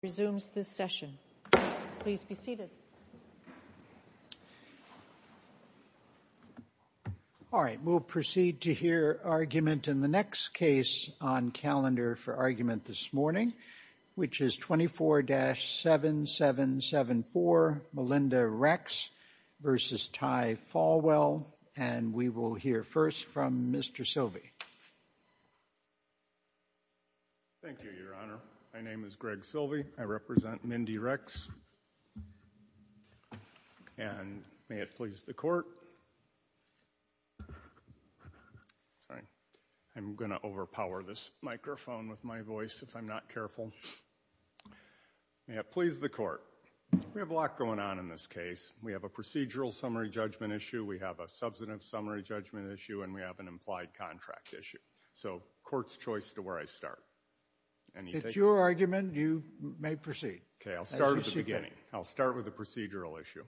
resumes this session. Please be seated. All right, we'll proceed to hear argument in the next case on calendar for argument this morning, which is 24-7774, Melinda Rex v. Ty Falwell, and we will hear first from Mr. Silvey. Thank you, Your Honor. My name is Greg Silvey. I represent Mindy Rex, and may it please the Court. I'm going to overpower this microphone with my voice if I'm not careful. May it please the Court. We have a lot going on in this case. We have a procedural summary judgment issue, we have a substantive summary judgment issue, and we have an implied contract issue. So court's choice to where I start. It's your argument. You may proceed. Okay, I'll start at the beginning. I'll start with the procedural issue.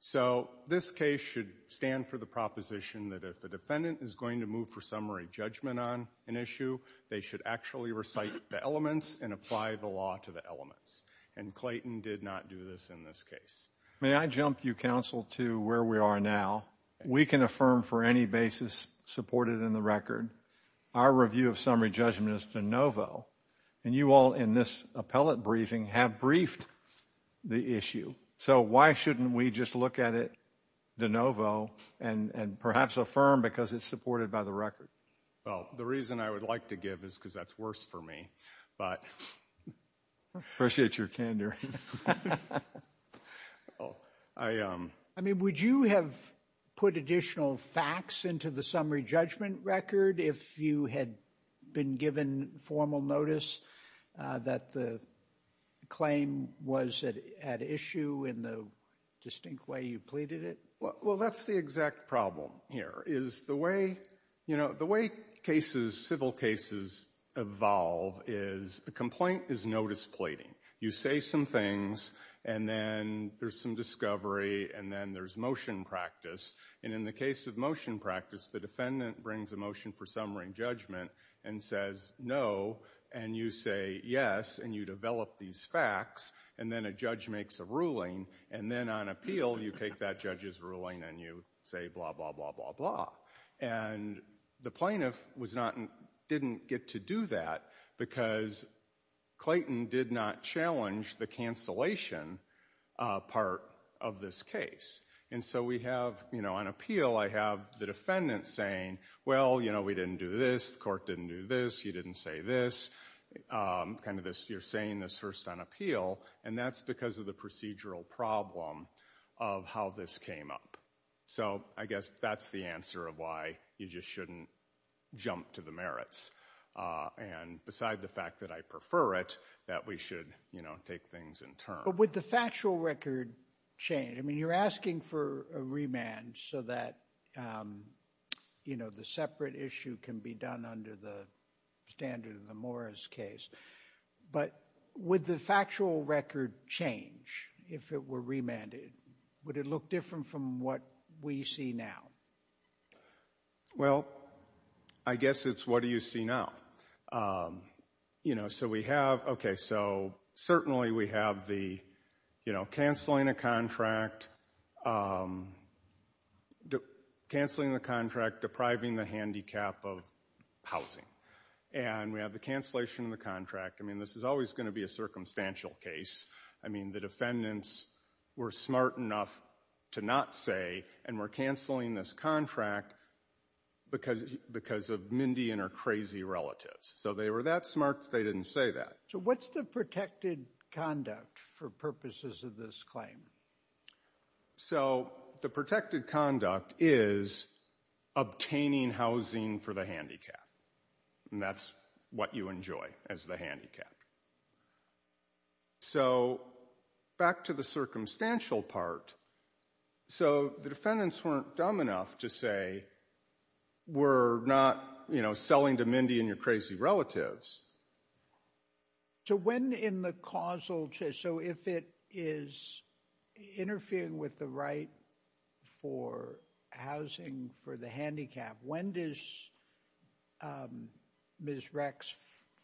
So this case should stand for the proposition that if the defendant is going to move for summary judgment on an issue, they should actually recite the elements and apply the law to the elements. And Clayton did not do this in this case. May I jump, you counsel, to where we are now? We can affirm for any basis supported in the record. Our review of summary judgment is de novo, and you all in this appellate briefing have briefed the issue. So why shouldn't we just look at it de novo and perhaps affirm because it's supported by the record? Well, the reason I would like to give is because that's worse for me. Appreciate your candor. I mean, would you have put additional facts into the summary judgment record if you had been given formal notice that the claim was at issue in the distinct way you pleaded it? Well, that's the exact problem here is the way, you know, the way cases, civil cases evolve is a complaint is notice pleading. You say some things, and then there's some discovery, and then there's motion practice. And in the case of motion practice, the defendant brings a motion for summary judgment and says no, and you say yes, and you develop these facts. And then a judge makes a ruling, and then on appeal, you take that judge's ruling and you say blah, blah, blah, blah, blah. And the plaintiff didn't get to do that because Clayton did not challenge the cancellation part of this case. And so we have, you know, on appeal, I have the defendant saying, well, you know, we didn't do this. The court didn't do this. You didn't say this. You're saying this first on appeal, and that's because of the procedural problem of how this came up. So I guess that's the answer of why you just shouldn't jump to the merits. And beside the fact that I prefer it, that we should, you know, take things in turn. But would the factual record change? I mean, you're asking for a remand so that, you know, the separate issue can be done under the standard of the Morris case. But would the factual record change if it were remanded? Would it look different from what we see now? Well, I guess it's what do you see now? You know, so we have, okay, so certainly we have the, you know, canceling a contract, canceling the contract depriving the handicap of housing. And we have the cancellation of the contract. I mean, this is always going to be a circumstantial case. I mean, the defendants were smart enough to not say, and we're canceling this contract because of Mindy and her crazy relatives. So they were that smart, they didn't say that. So what's the protected conduct for purposes of this claim? So the protected conduct is obtaining housing for the handicap. And that's what you enjoy as the handicap. So back to the circumstantial part. So the defendants weren't dumb enough to say we're not, you know, selling to Mindy and your crazy relatives. So when in the causal, so if it is interfering with the right for housing for the handicap, when does Ms. Rex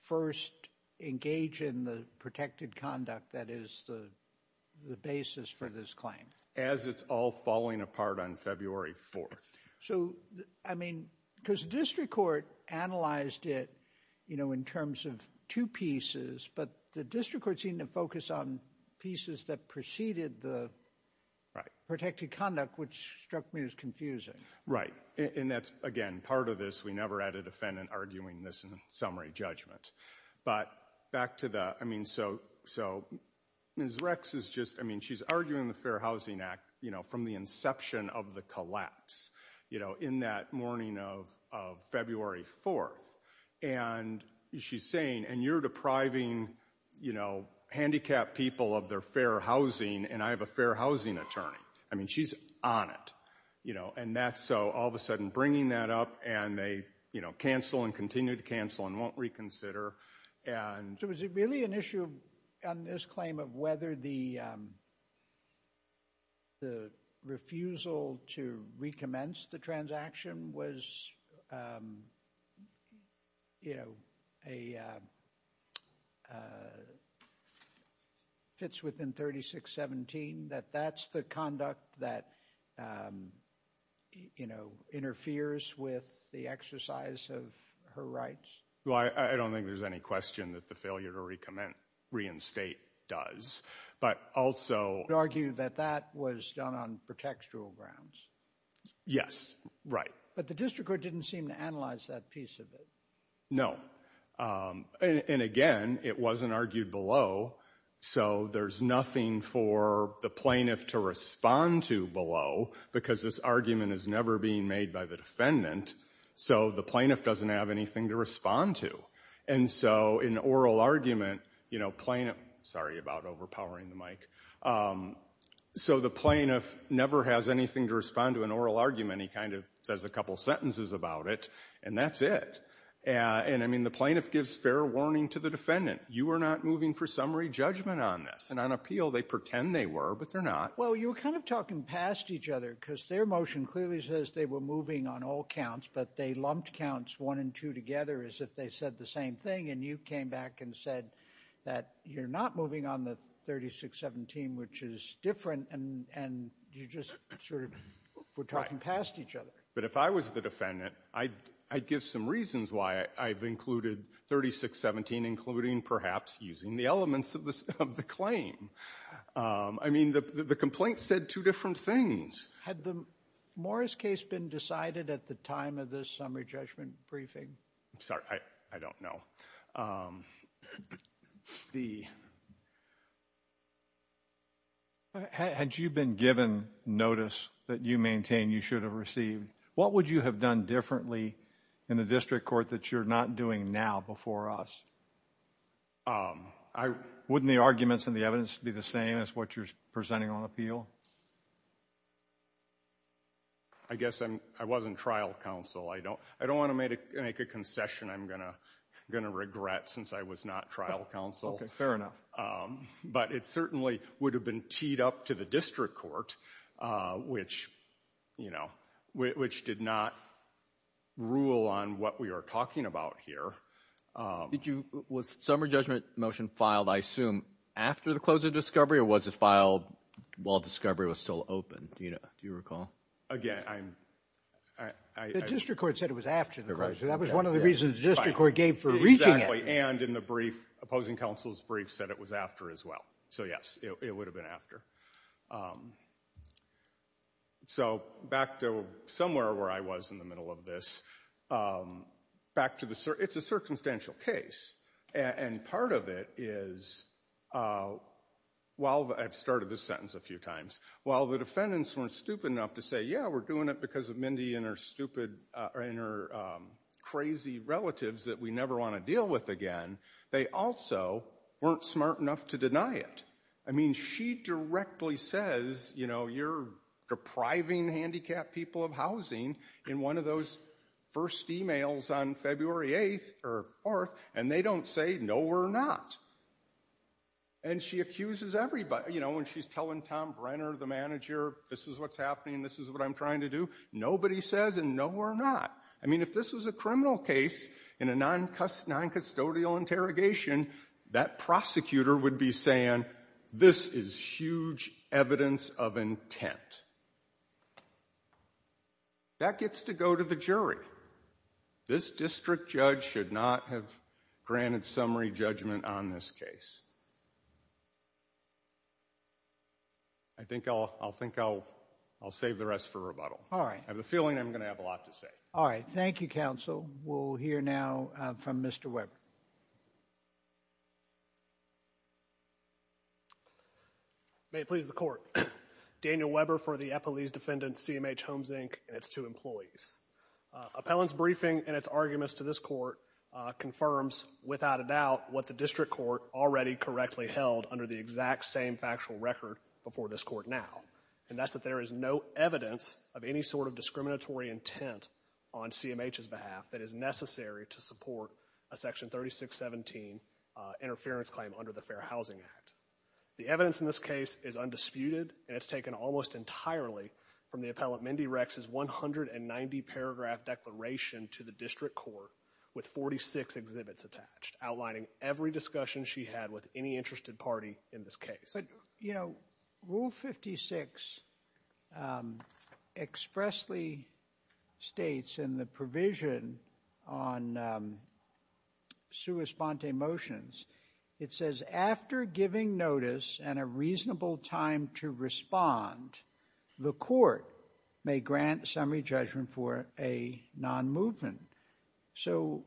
first engage in the protected conduct that is the basis for this claim? As it's all falling apart on February 4th. So, I mean, because the district court analyzed it, you know, in terms of two pieces, but the district court seemed to focus on pieces that preceded the protected conduct, which struck me as confusing. Right. And that's, again, part of this, we never had a defendant arguing this in summary judgment. But back to the, I mean, so Ms. Rex is just, I mean, she's arguing the Fair Housing Act, you know, from the inception of the collapse. You know, in that morning of February 4th. And she's saying, and you're depriving, you know, handicapped people of their fair housing, and I have a fair housing attorney. I mean, she's on it, you know, and that's so all of a sudden bringing that up and they, you know, cancel and continue to cancel and won't reconsider. So, is it really an issue on this claim of whether the refusal to recommence the transaction was, you know, fits within 3617, that that's the conduct that, you know, interferes with the exercise of her rights? Well, I don't think there's any question that the failure to recommence, reinstate does, but also. You argue that that was done on pretextual grounds. Yes, right. But the district court didn't seem to analyze that piece of it. No. And again, it wasn't argued below. So, there's nothing for the plaintiff to respond to below because this argument is never being made by the defendant. So, the plaintiff doesn't have anything to respond to. And so, in oral argument, you know, plaintiff. Sorry about overpowering the mic. So, the plaintiff never has anything to respond to in oral argument. He kind of says a couple sentences about it, and that's it. And I mean, the plaintiff gives fair warning to the defendant. You are not moving for summary judgment on this. And on appeal, they pretend they were, but they're not. Well, you were kind of talking past each other because their motion clearly says they were moving on all counts, but they lumped counts one and two together as if they said the same thing, and you came back and said that you're not moving on the 3617, which is different, and you just sort of were talking past each other. But if I was the defendant, I'd give some reasons why I've included 3617, including perhaps using the elements of the claim. I mean, the complaint said two different things. Had the Morris case been decided at the time of this summary judgment briefing? I'm sorry. I don't know. The... Had you been given notice that you maintain you should have received, what would you have done differently in the district court that you're not doing now before us? Wouldn't the arguments and the evidence be the same as what you're presenting on appeal? I guess I wasn't trial counsel. I don't want to make a concession I'm going to regret since I was not trial counsel. Okay, fair enough. But it certainly would have been teed up to the district court, which, you know, which did not rule on what we are talking about here. Was summary judgment motion filed, I assume, after the close of discovery or was it filed while discovery was still open? Do you recall? Again, I'm... The district court said it was after the closure. That was one of the reasons the district court gave for reaching it. Exactly. And in the brief, opposing counsel's brief said it was after as well. So, yes, it would have been after. So back to somewhere where I was in the middle of this, back to the certain. It's a circumstantial case. And part of it is while I've started this sentence a few times, while the defendants weren't stupid enough to say, yeah, we're doing it because of Mindy and her crazy relatives that we never want to deal with again, they also weren't smart enough to deny it. I mean, she directly says, you know, you're depriving handicapped people of housing in one of those first emails on February 8th or 4th, and they don't say no, we're not. And she accuses everybody, you know, when she's telling Tom Brenner, the manager, this is what's happening, this is what I'm trying to do. Nobody says, and no, we're not. I mean, if this was a criminal case in a non-custodial interrogation, that prosecutor would be saying, this is huge evidence of intent. That gets to go to the jury. This district judge should not have granted summary judgment on this case. I think I'll save the rest for rebuttal. All right. I have a feeling I'm going to have a lot to say. All right. Thank you, counsel. We'll hear now from Mr. Weber. May it please the court. Daniel Weber for the Epelese Defendant, CMH Homes, Inc., and its two employees. Appellant's briefing and its arguments to this court confirms without a doubt what the district court already correctly held under the exact same factual record before this court now, and that's that there is no evidence of any sort of discriminatory intent on CMH's behalf that is necessary to support a Section 3617 interference claim under the Fair Housing Act. The evidence in this case is undisputed, and it's taken almost entirely from the appellant Mindy Rex's 190-paragraph declaration to the district court with 46 exhibits attached, outlining every discussion she had with any interested party in this case. But, you know, Rule 56 expressly states in the provision on sua sponte motions, it says after giving notice and a reasonable time to respond, the court may grant summary judgment for a non-movement. So,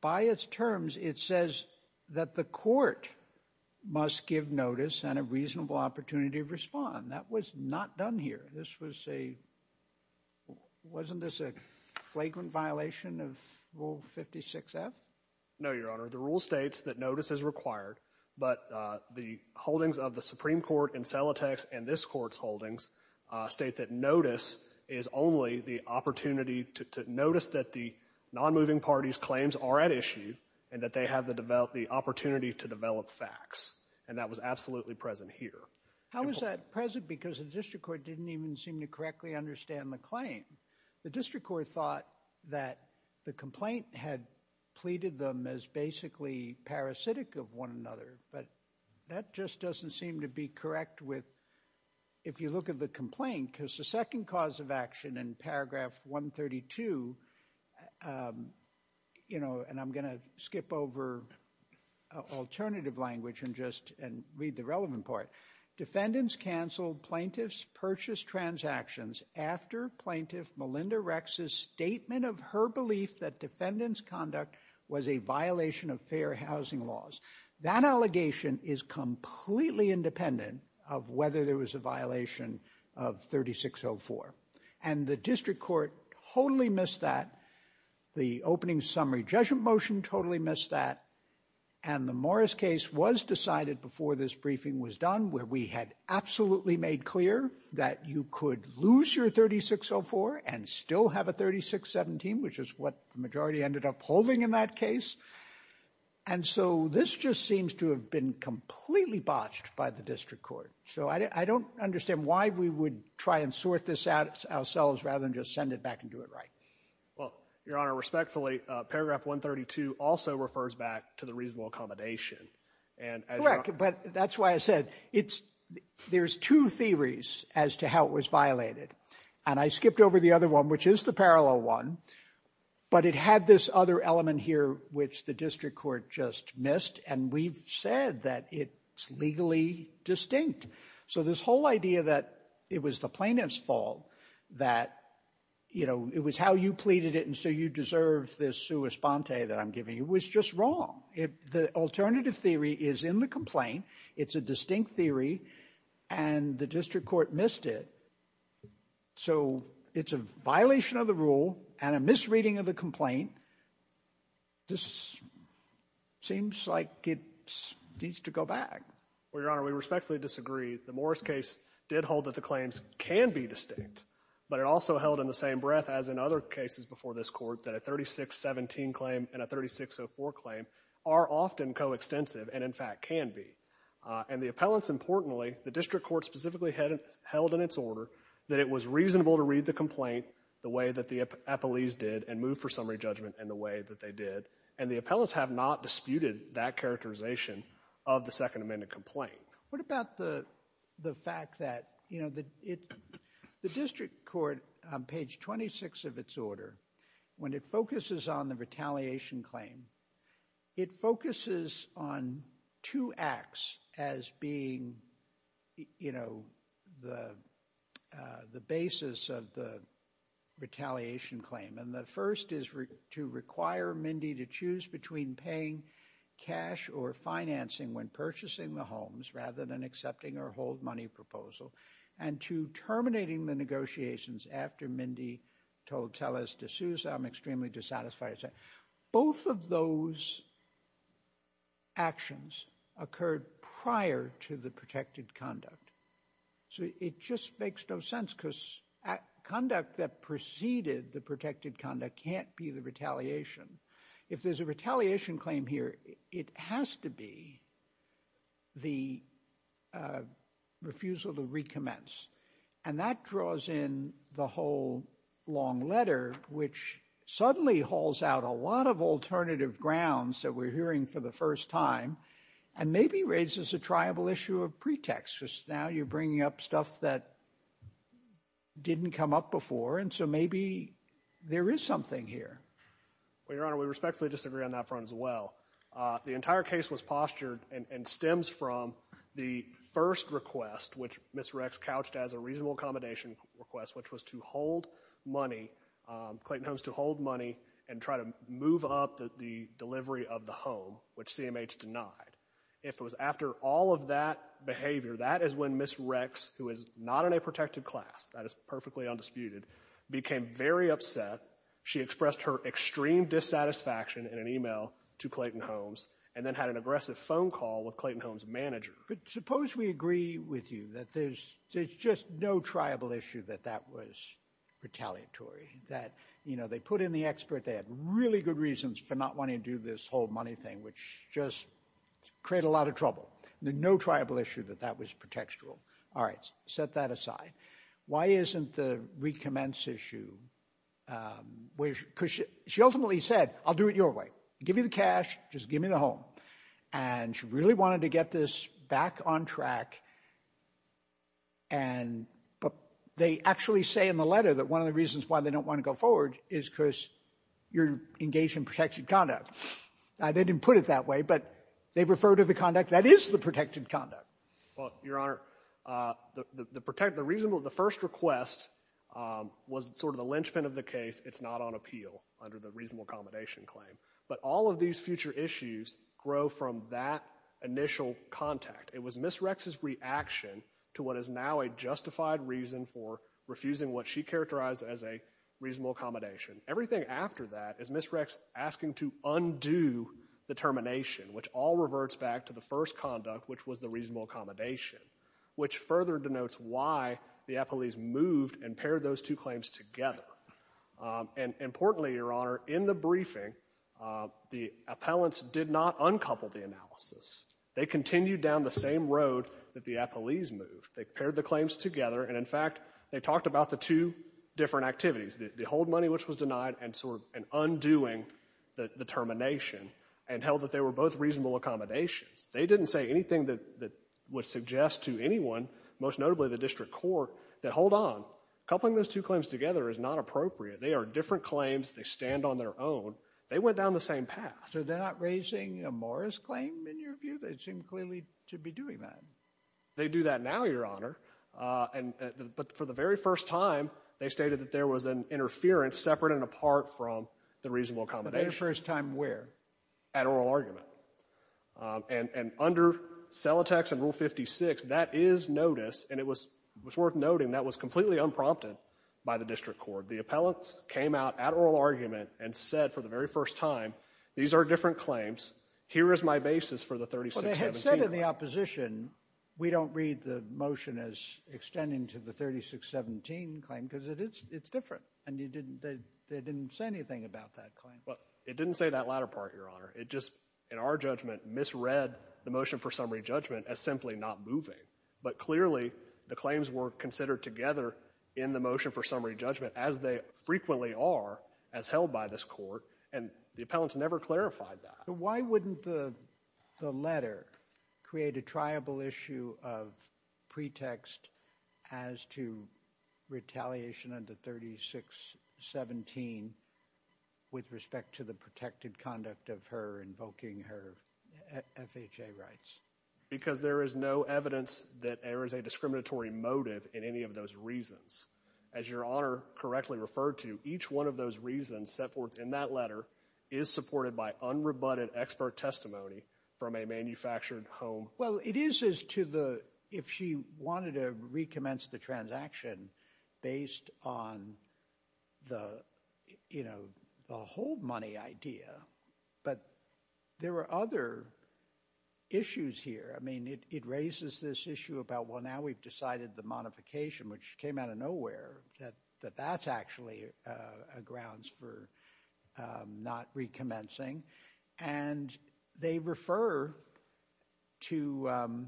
by its terms, it says that the court must give notice and a reasonable opportunity to respond. That was not done here. This was a, wasn't this a flagrant violation of Rule 56F? No, Your Honor. The rule states that notice is required, but the holdings of the Supreme Court in Celotex and this Court's holdings state that notice is only the opportunity to notice that the non-moving party's claims are at issue and that they have the opportunity to develop facts, and that was absolutely present here. How is that present? Because the district court didn't even seem to correctly understand the claim. The district court thought that the complaint had pleaded them as basically parasitic of one another, but that just doesn't seem to be correct with, if you look at the complaint, because the second cause of action in paragraph 132, you know, and I'm going to skip over alternative language and just read the relevant part. Defendants canceled plaintiff's purchase transactions after plaintiff Melinda Rex's statement of her belief that defendant's conduct was a violation of fair housing laws. That allegation is completely independent of whether there was a violation of 3604, and the district court totally missed that. The opening summary judgment motion totally missed that, and the Morris case was decided before this briefing was done, where we had absolutely made clear that you could lose your 3604 and still have a 3617, which is what the majority ended up holding in that case. And so this just seems to have been completely botched by the district court. So I don't understand why we would try and sort this out ourselves rather than just send it back and do it right. Well, Your Honor, respectfully, paragraph 132 also refers back to the reasonable accommodation. Correct, but that's why I said there's two theories as to how it was violated, and I skipped over the other one, which is the parallel one, but it had this other element here which the district court just missed, and we've said that it's legally distinct. So this whole idea that it was the plaintiff's fault, that it was how you pleaded it and so you deserve this sua sponte that I'm giving you, was just wrong. The alternative theory is in the complaint. It's a distinct theory, and the district court missed it. So it's a violation of the rule and a misreading of the complaint. This seems like it needs to go back. Well, Your Honor, we respectfully disagree. The Morris case did hold that the claims can be distinct, but it also held in the same breath as in other cases before this court that a 3617 claim and a 3604 claim are often coextensive and, in fact, can be. And the appellants, importantly, the district court specifically held in its order that it was reasonable to read the complaint the way that the appellees did and move for summary judgment in the way that they did, and the appellants have not disputed that characterization of the Second Amendment complaint. What about the fact that, you know, the district court, on page 26 of its order, when it focuses on the retaliation claim, it focuses on two acts as being, you know, the basis of the retaliation claim, and the first is to require Mindy to choose between paying cash or financing when purchasing the homes rather than accepting her hold-money proposal, and two, terminating the negotiations after Mindy told Tellez to sue, so I'm extremely dissatisfied with that. Both of those actions occurred prior to the protected conduct, so it just makes no sense because conduct that preceded the protected conduct can't be the retaliation. If there's a retaliation claim here, it has to be the refusal to recommence, and that draws in the whole long letter, which suddenly hauls out a lot of alternative grounds that we're hearing for the first time and maybe raises a triable issue of pretext. Now you're bringing up stuff that didn't come up before, and so maybe there is something here. Well, Your Honor, we respectfully disagree on that front as well. The entire case was postured and stems from the first request, which Ms. Rex couched as a reasonable accommodation request, which was to hold money, Clayton Holmes, to hold money and try to move up the delivery of the home, which CMH denied. If it was after all of that behavior, that is when Ms. Rex, who is not in a protected class, that is perfectly undisputed, became very upset. She expressed her extreme dissatisfaction in an email to Clayton Holmes and then had an aggressive phone call with Clayton Holmes' manager. But suppose we agree with you that there's just no triable issue that that was retaliatory, that, you know, they put in the expert, they had really good reasons for not wanting to do this whole money thing, which just created a lot of trouble. No triable issue that that was pretextual. All right, set that aside. Why isn't the recommence issue... Because she ultimately said, I'll do it your way. Give me the cash, just give me the home. And she really wanted to get this back on track. And they actually say in the letter that one of the reasons why they don't want to go forward is because you're engaged in protected conduct. They didn't put it that way, but they refer to the conduct that is the protected conduct. Well, Your Honor, the first request was sort of the linchpin of the case. It's not on appeal under the reasonable accommodation claim. But all of these future issues grow from that initial contact. It was Ms. Rex's reaction to what is now a justified reason for refusing what she characterized as a reasonable accommodation. Everything after that is Ms. Rex asking to undo the termination, which all reverts back to the first conduct, which was the reasonable accommodation, which further denotes why the appellees moved and paired those two claims together. And importantly, Your Honor, in the briefing, the appellants did not uncouple the analysis. They continued down the same road that the appellees moved. They paired the claims together, and in fact, they talked about the two different activities, the hold money, which was denied, and sort of an undoing, the termination, and held that they were both reasonable accommodations. They didn't say anything that would suggest to anyone, most notably the district court, that hold on, coupling those two claims together is not appropriate. They are different claims. They stand on their own. They went down the same path. So they're not raising a Morris claim, in your view? They seem clearly to be doing that. They do that now, Your Honor. But for the very first time, they stated that there was an interference separate and apart from the reasonable accommodation. The very first time where? At oral argument. And under Celotex and Rule 56, that is notice, and it was worth noting that was completely unprompted by the district court. The appellants came out at oral argument and said for the very first time, these are different claims. Here is my basis for the 3617 claim. But they had said in the opposition, we don't read the motion as extending to the 3617 claim because it's different, and they didn't say anything about that claim. It didn't say that latter part, Your Honor. It just, in our judgment, misread the motion for summary judgment as simply not moving. But clearly, the claims were considered together in the motion for summary judgment, as they frequently are as held by this court, and the appellants never clarified that. Why wouldn't the letter create a triable issue of pretext as to retaliation under 3617 with respect to the protected conduct of her invoking her FHA rights? Because there is no evidence that there is a discriminatory motive in any of those reasons. As Your Honor correctly referred to, each one of those reasons set forth in that letter is supported by unrebutted expert testimony from a manufactured home. Well, it is as to the, if she wanted to recommence the transaction based on the whole money idea, but there are other issues here. I mean, it raises this issue about, well, now we've decided the modification, which came out of nowhere, that that's actually a grounds for not recommencing, and they refer to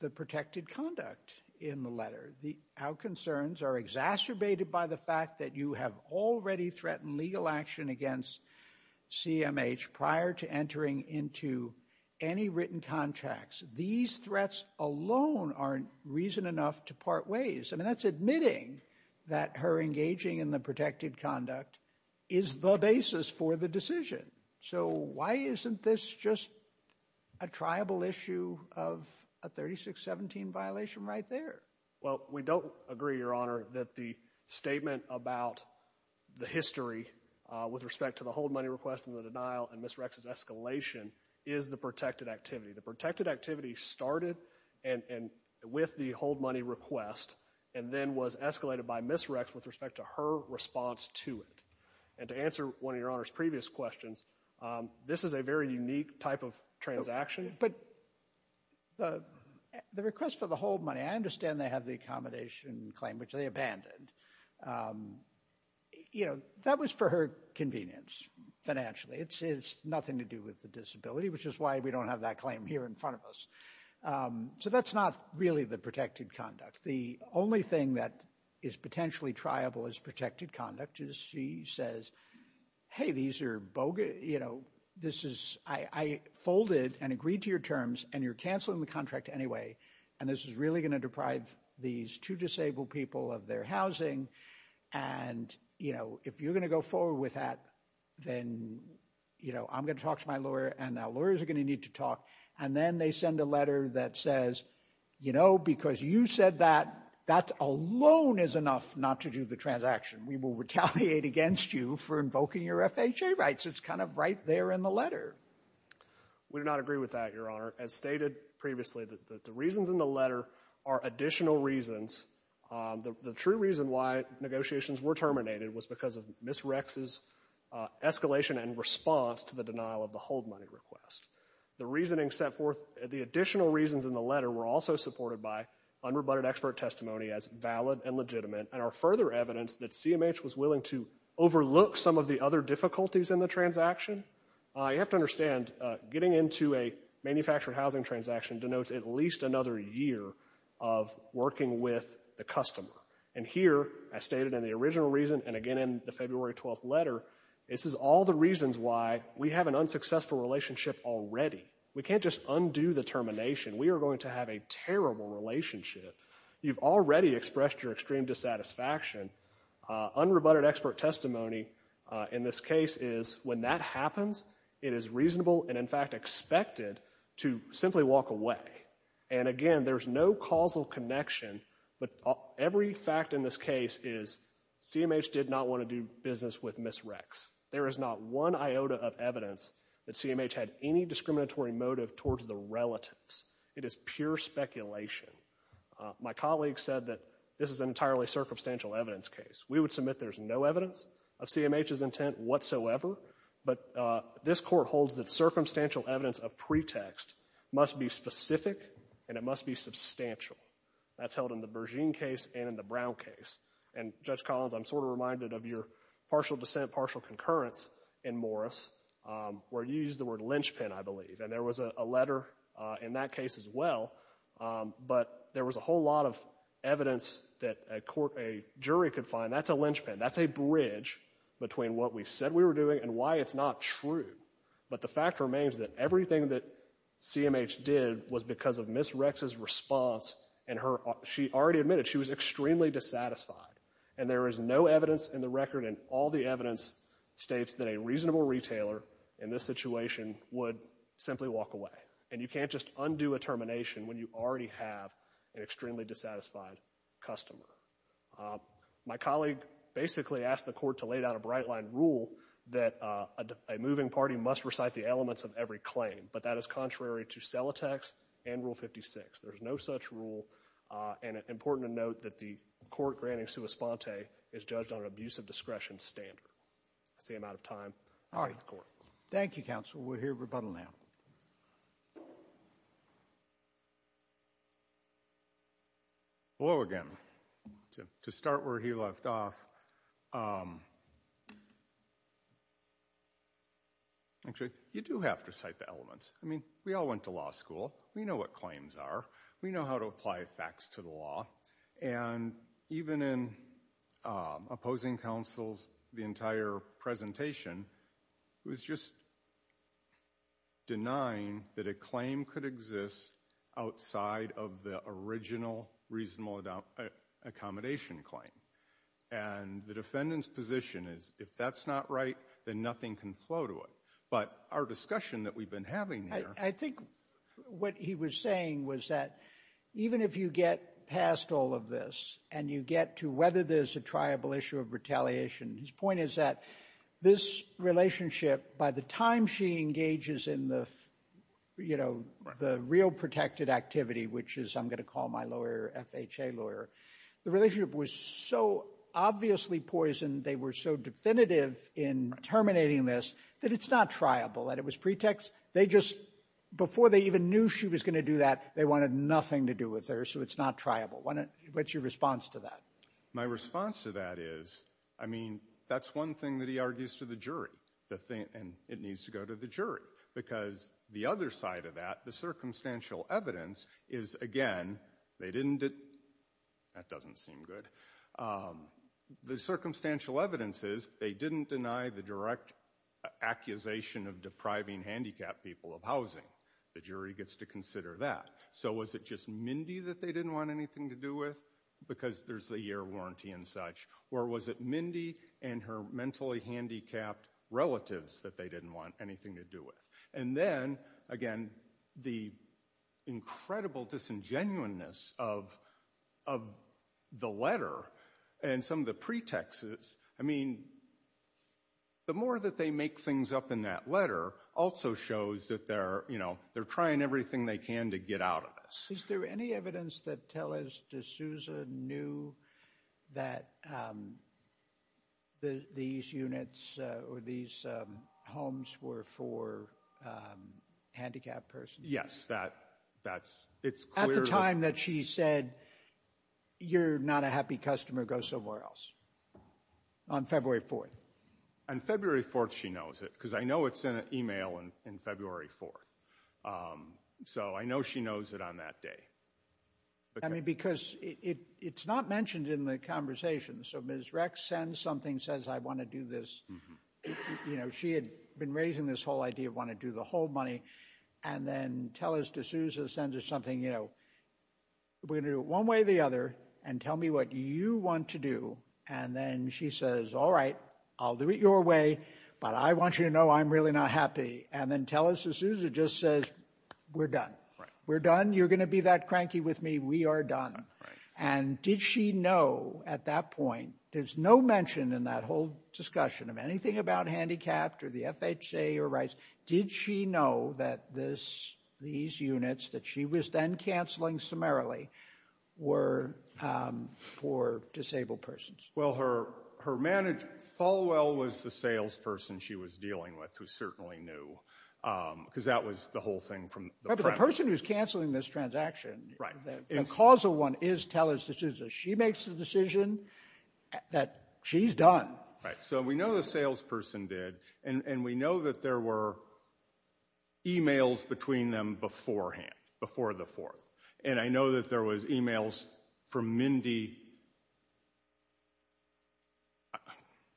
the protected conduct in the letter, our concerns are exacerbated by the fact that you have already threatened legal action against CMH prior to entering into any written contracts. These threats alone aren't reason enough to part ways. I mean, that's admitting that her engaging in the protected conduct is the basis for the decision. So why isn't this just a triable issue of a 3617 violation right there? Well, we don't agree, Your Honor, that the statement about the history with respect to the hold money request and the denial and Ms. Rex's escalation is the protected activity. The protected activity started with the hold money request and then was escalated by Ms. Rex with respect to her response to it. And to answer one of Your Honor's previous questions, this is a very unique type of transaction. But the request for the hold money, I understand they have the accommodation claim, which they abandoned. You know, that was for her convenience financially. It's nothing to do with the disability, which is why we don't have that claim here in front of us. So that's not really the protected conduct. The only thing that is potentially triable as protected conduct is she says, hey, these are bogus, you know, this is... I folded and agreed to your terms, and you're canceling the contract anyway, and this is really going to deprive these two disabled people of their housing. And, you know, if you're going to go forward with that, then, you know, I'm going to talk to my lawyer, and our lawyers are going to need to talk. And then they send a letter that says, you know, because you said that, that alone is enough not to do the transaction. We will retaliate against you for invoking your FHA rights. It's kind of right there in the letter. We do not agree with that, Your Honor. As stated previously, the reasons in the letter are additional reasons. The true reason why negotiations were terminated was because of Ms. Rex's escalation and response to the denial of the hold money request. The reasoning set forth, the additional reasons in the letter were also supported by unrebutted expert testimony as valid and legitimate, and are further evidence that CMH was willing to overlook some of the other difficulties in the transaction. You have to understand, getting into a manufactured housing transaction denotes at least another year of working with the customer. And here, as stated in the original reason, and again in the February 12th letter, this is all the reasons why we have an unsuccessful relationship already. We can't just undo the termination. We are going to have a terrible relationship. You've already expressed your extreme dissatisfaction. Unrebutted expert testimony in this case is when that happens, it is reasonable, and in fact expected, to simply walk away. And again, there's no causal connection, but every fact in this case is CMH did not want to do business with Ms. Rex. There is not one iota of evidence that CMH had any discriminatory motive towards the relatives. It is pure speculation. My colleague said that this is an entirely circumstantial evidence case. We would submit there's no evidence of CMH's intent whatsoever, but this Court holds that circumstantial evidence of pretext must be specific and it must be substantial. That's held in the Bergeen case and in the Brown case. And, Judge Collins, I'm sort of reminded of your partial dissent, partial concurrence in Morris, where you used the word lynchpin, I believe, and there was a letter in that case as well, but there was a whole lot of evidence that a jury could find. And that's a lynchpin, that's a bridge between what we said we were doing and why it's not true. But the fact remains that everything that CMH did was because of Ms. Rex's response, and she already admitted she was extremely dissatisfied. And there is no evidence in the record, and all the evidence states that a reasonable retailer in this situation would simply walk away. And you can't just undo a termination when you already have an extremely dissatisfied customer. My colleague basically asked the court to lay down a bright-line rule that a moving party must recite the elements of every claim, but that is contrary to CELATEX and Rule 56. There's no such rule, and it's important to note that the court granting sua sponte is judged on an abuse of discretion standard. That's the amount of time I have in the court. Thank you, counsel. We'll hear rebuttal now. Hello again. To start where he left off... Actually, you do have to cite the elements. I mean, we all went to law school. We know what claims are. We know how to apply facts to the law. And even in opposing counsels, the entire presentation was just denying that a claim could exist outside of the original reasonable accommodation claim. And the defendant's position is, if that's not right, then nothing can flow to it. But our discussion that we've been having here... I think what he was saying was that even if you get past all of this and you get to whether there's a triable issue of retaliation, his point is that this relationship, by the time she engages in the real protected activity, which is, I'm going to call my lawyer FHA lawyer, the relationship was so obviously poisoned, they were so definitive in terminating this, that it's not triable, that it was pretext. Before they even knew she was going to do that, they wanted nothing to do with her, so it's not triable. What's your response to that? My response to that is, I mean, that's one thing that he argues to the jury. And it needs to go to the jury. Because the other side of that, the circumstantial evidence, is, again, they didn't... That doesn't seem good. The circumstantial evidence is, they didn't deny the direct accusation of depriving handicapped people of housing. The jury gets to consider that. So was it just Mindy that they didn't want anything to do with? Because there's the year warranty and such. Or was it Mindy and her mentally handicapped relatives that they didn't want anything to do with? And then, again, the incredible disingenuineness of the letter and some of the pretexts... I mean, the more that they make things up in that letter also shows that they're trying everything they can to get out of this. Is there any evidence that Tellez de Souza knew that these units or these homes were for handicapped persons? Yes. At the time that she said, you're not a happy customer, go somewhere else. On February 4th. On February 4th, she knows it. Because I know it's in an email on February 4th. So I know she knows it on that day. I mean, because it's not mentioned in the conversation. So Ms. Rex sends something, says, I want to do this. She had been raising this whole idea of wanting to do the whole money. And then Tellez de Souza sends us something, we're going to do it one way or the other, and tell me what you want to do. And then she says, all right, I'll do it your way, but I want you to know I'm really not happy. And then Tellez de Souza just says, we're done. We're done. You're going to be that cranky with me. We are done. And did she know at that point, there's no mention in that whole discussion of anything about handicapped or the FHA or rights, did she know that these units that she was then canceling summarily were for disabled persons? Well, her manager, Falwell, was the salesperson she was dealing with who certainly knew, because that was the whole thing from the premise. But the person who's canceling this transaction, the causal one is Tellez de Souza. She makes the decision that she's done. Right. So we know the salesperson did, and we know that there were e-mails between them beforehand, before the 4th. And I know that there was e-mails from Mindy.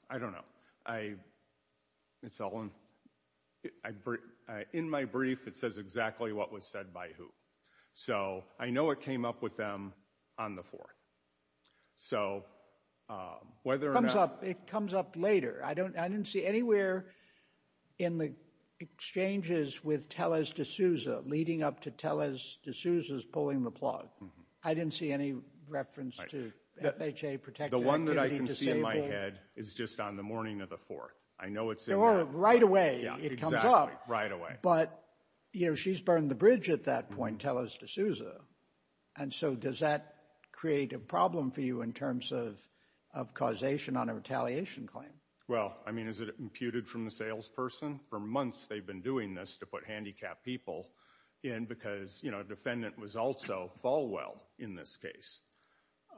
I don't know. In my brief, it says exactly what was said by who. So I know it came up with them on the 4th. It comes up later. I didn't see anywhere in the exchanges with Tellez de Souza, leading up to Tellez de Souza's pulling the plug. I didn't see any reference to FHA protected activity disabled. It's just on the morning of the 4th. I know it's in there. Or right away it comes up. Exactly, right away. But she's burned the bridge at that point, Tellez de Souza. And so does that create a problem for you in terms of causation on a retaliation claim? Well, I mean, is it imputed from the salesperson? For months they've been doing this to put handicapped people in, because a defendant was also Falwell in this case.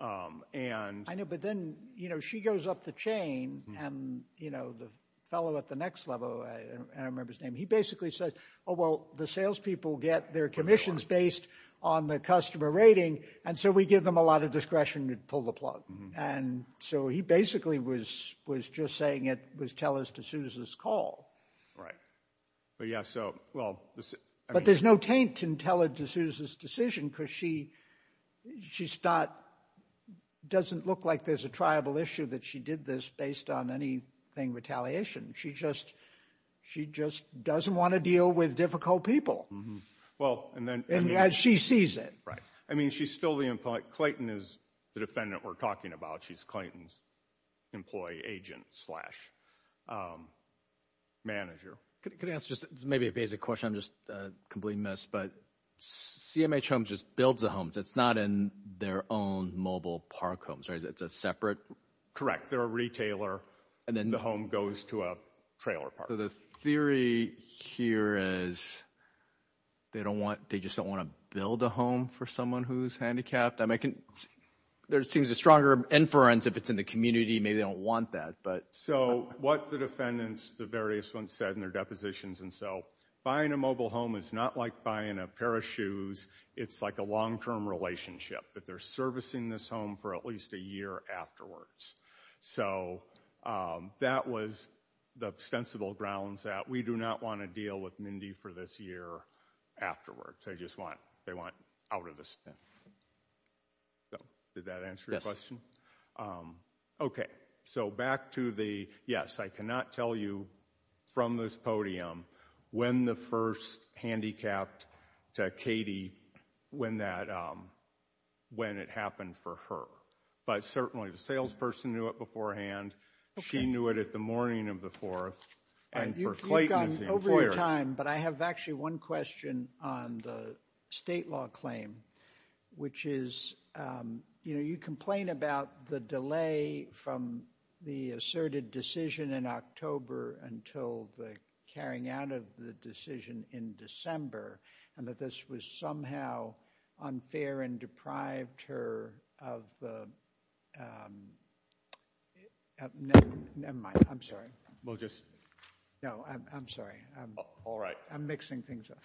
I know, but then she goes up the chain, and the fellow at the next level, I don't remember his name, he basically says, oh, well the salespeople get their commissions based on the customer rating, and so we give them a lot of discretion to pull the plug. And so he basically was just saying it was Tellez de Souza's call. Right. But yeah, so, well. But there's no taint in Tellez de Souza's decision, because she doesn't look like there's a triable issue that she did this based on anything retaliation. She just doesn't want to deal with difficult people. And she sees it. I mean, she's still the employee. Clayton is the defendant we're talking about. She's Clayton's employee agent slash manager. Could I ask just maybe a basic question? I'm just completely missed. But CMH Homes just builds the homes. It's not in their own mobile park homes, right? It's a separate? Correct. They're a retailer. And then the home goes to a trailer park. So the theory here is they don't want, they just don't want to build a home for someone who's handicapped. I mean, there seems a stronger inference if it's in the community. Maybe they don't want that. So what the defendants, the various ones said in their depositions, and so buying a mobile home is not like buying a pair of shoes. It's like a long-term relationship, that they're servicing this home for at least a year afterwards. So that was the ostensible grounds that we do not want to deal with Mindy for this year afterwards. They just want out of the spin. Did that answer your question? Yes. Okay. So back to the, yes, I cannot tell you from this podium when the first handicapped to Katie, when it happened for her. But certainly the salesperson knew it beforehand. She knew it at the morning of the 4th. And for Clayton as the employer. You've gone over your time, but I have actually one question on the state law claim, which is, you know, about the delay from the asserted decision in October until the carrying out of the decision in December. And that this was somehow unfair and deprived her of the, nevermind. I'm sorry. We'll just. No, I'm sorry. All right. I'm mixing things up.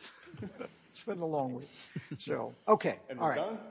It's been a long week. So, okay. All right.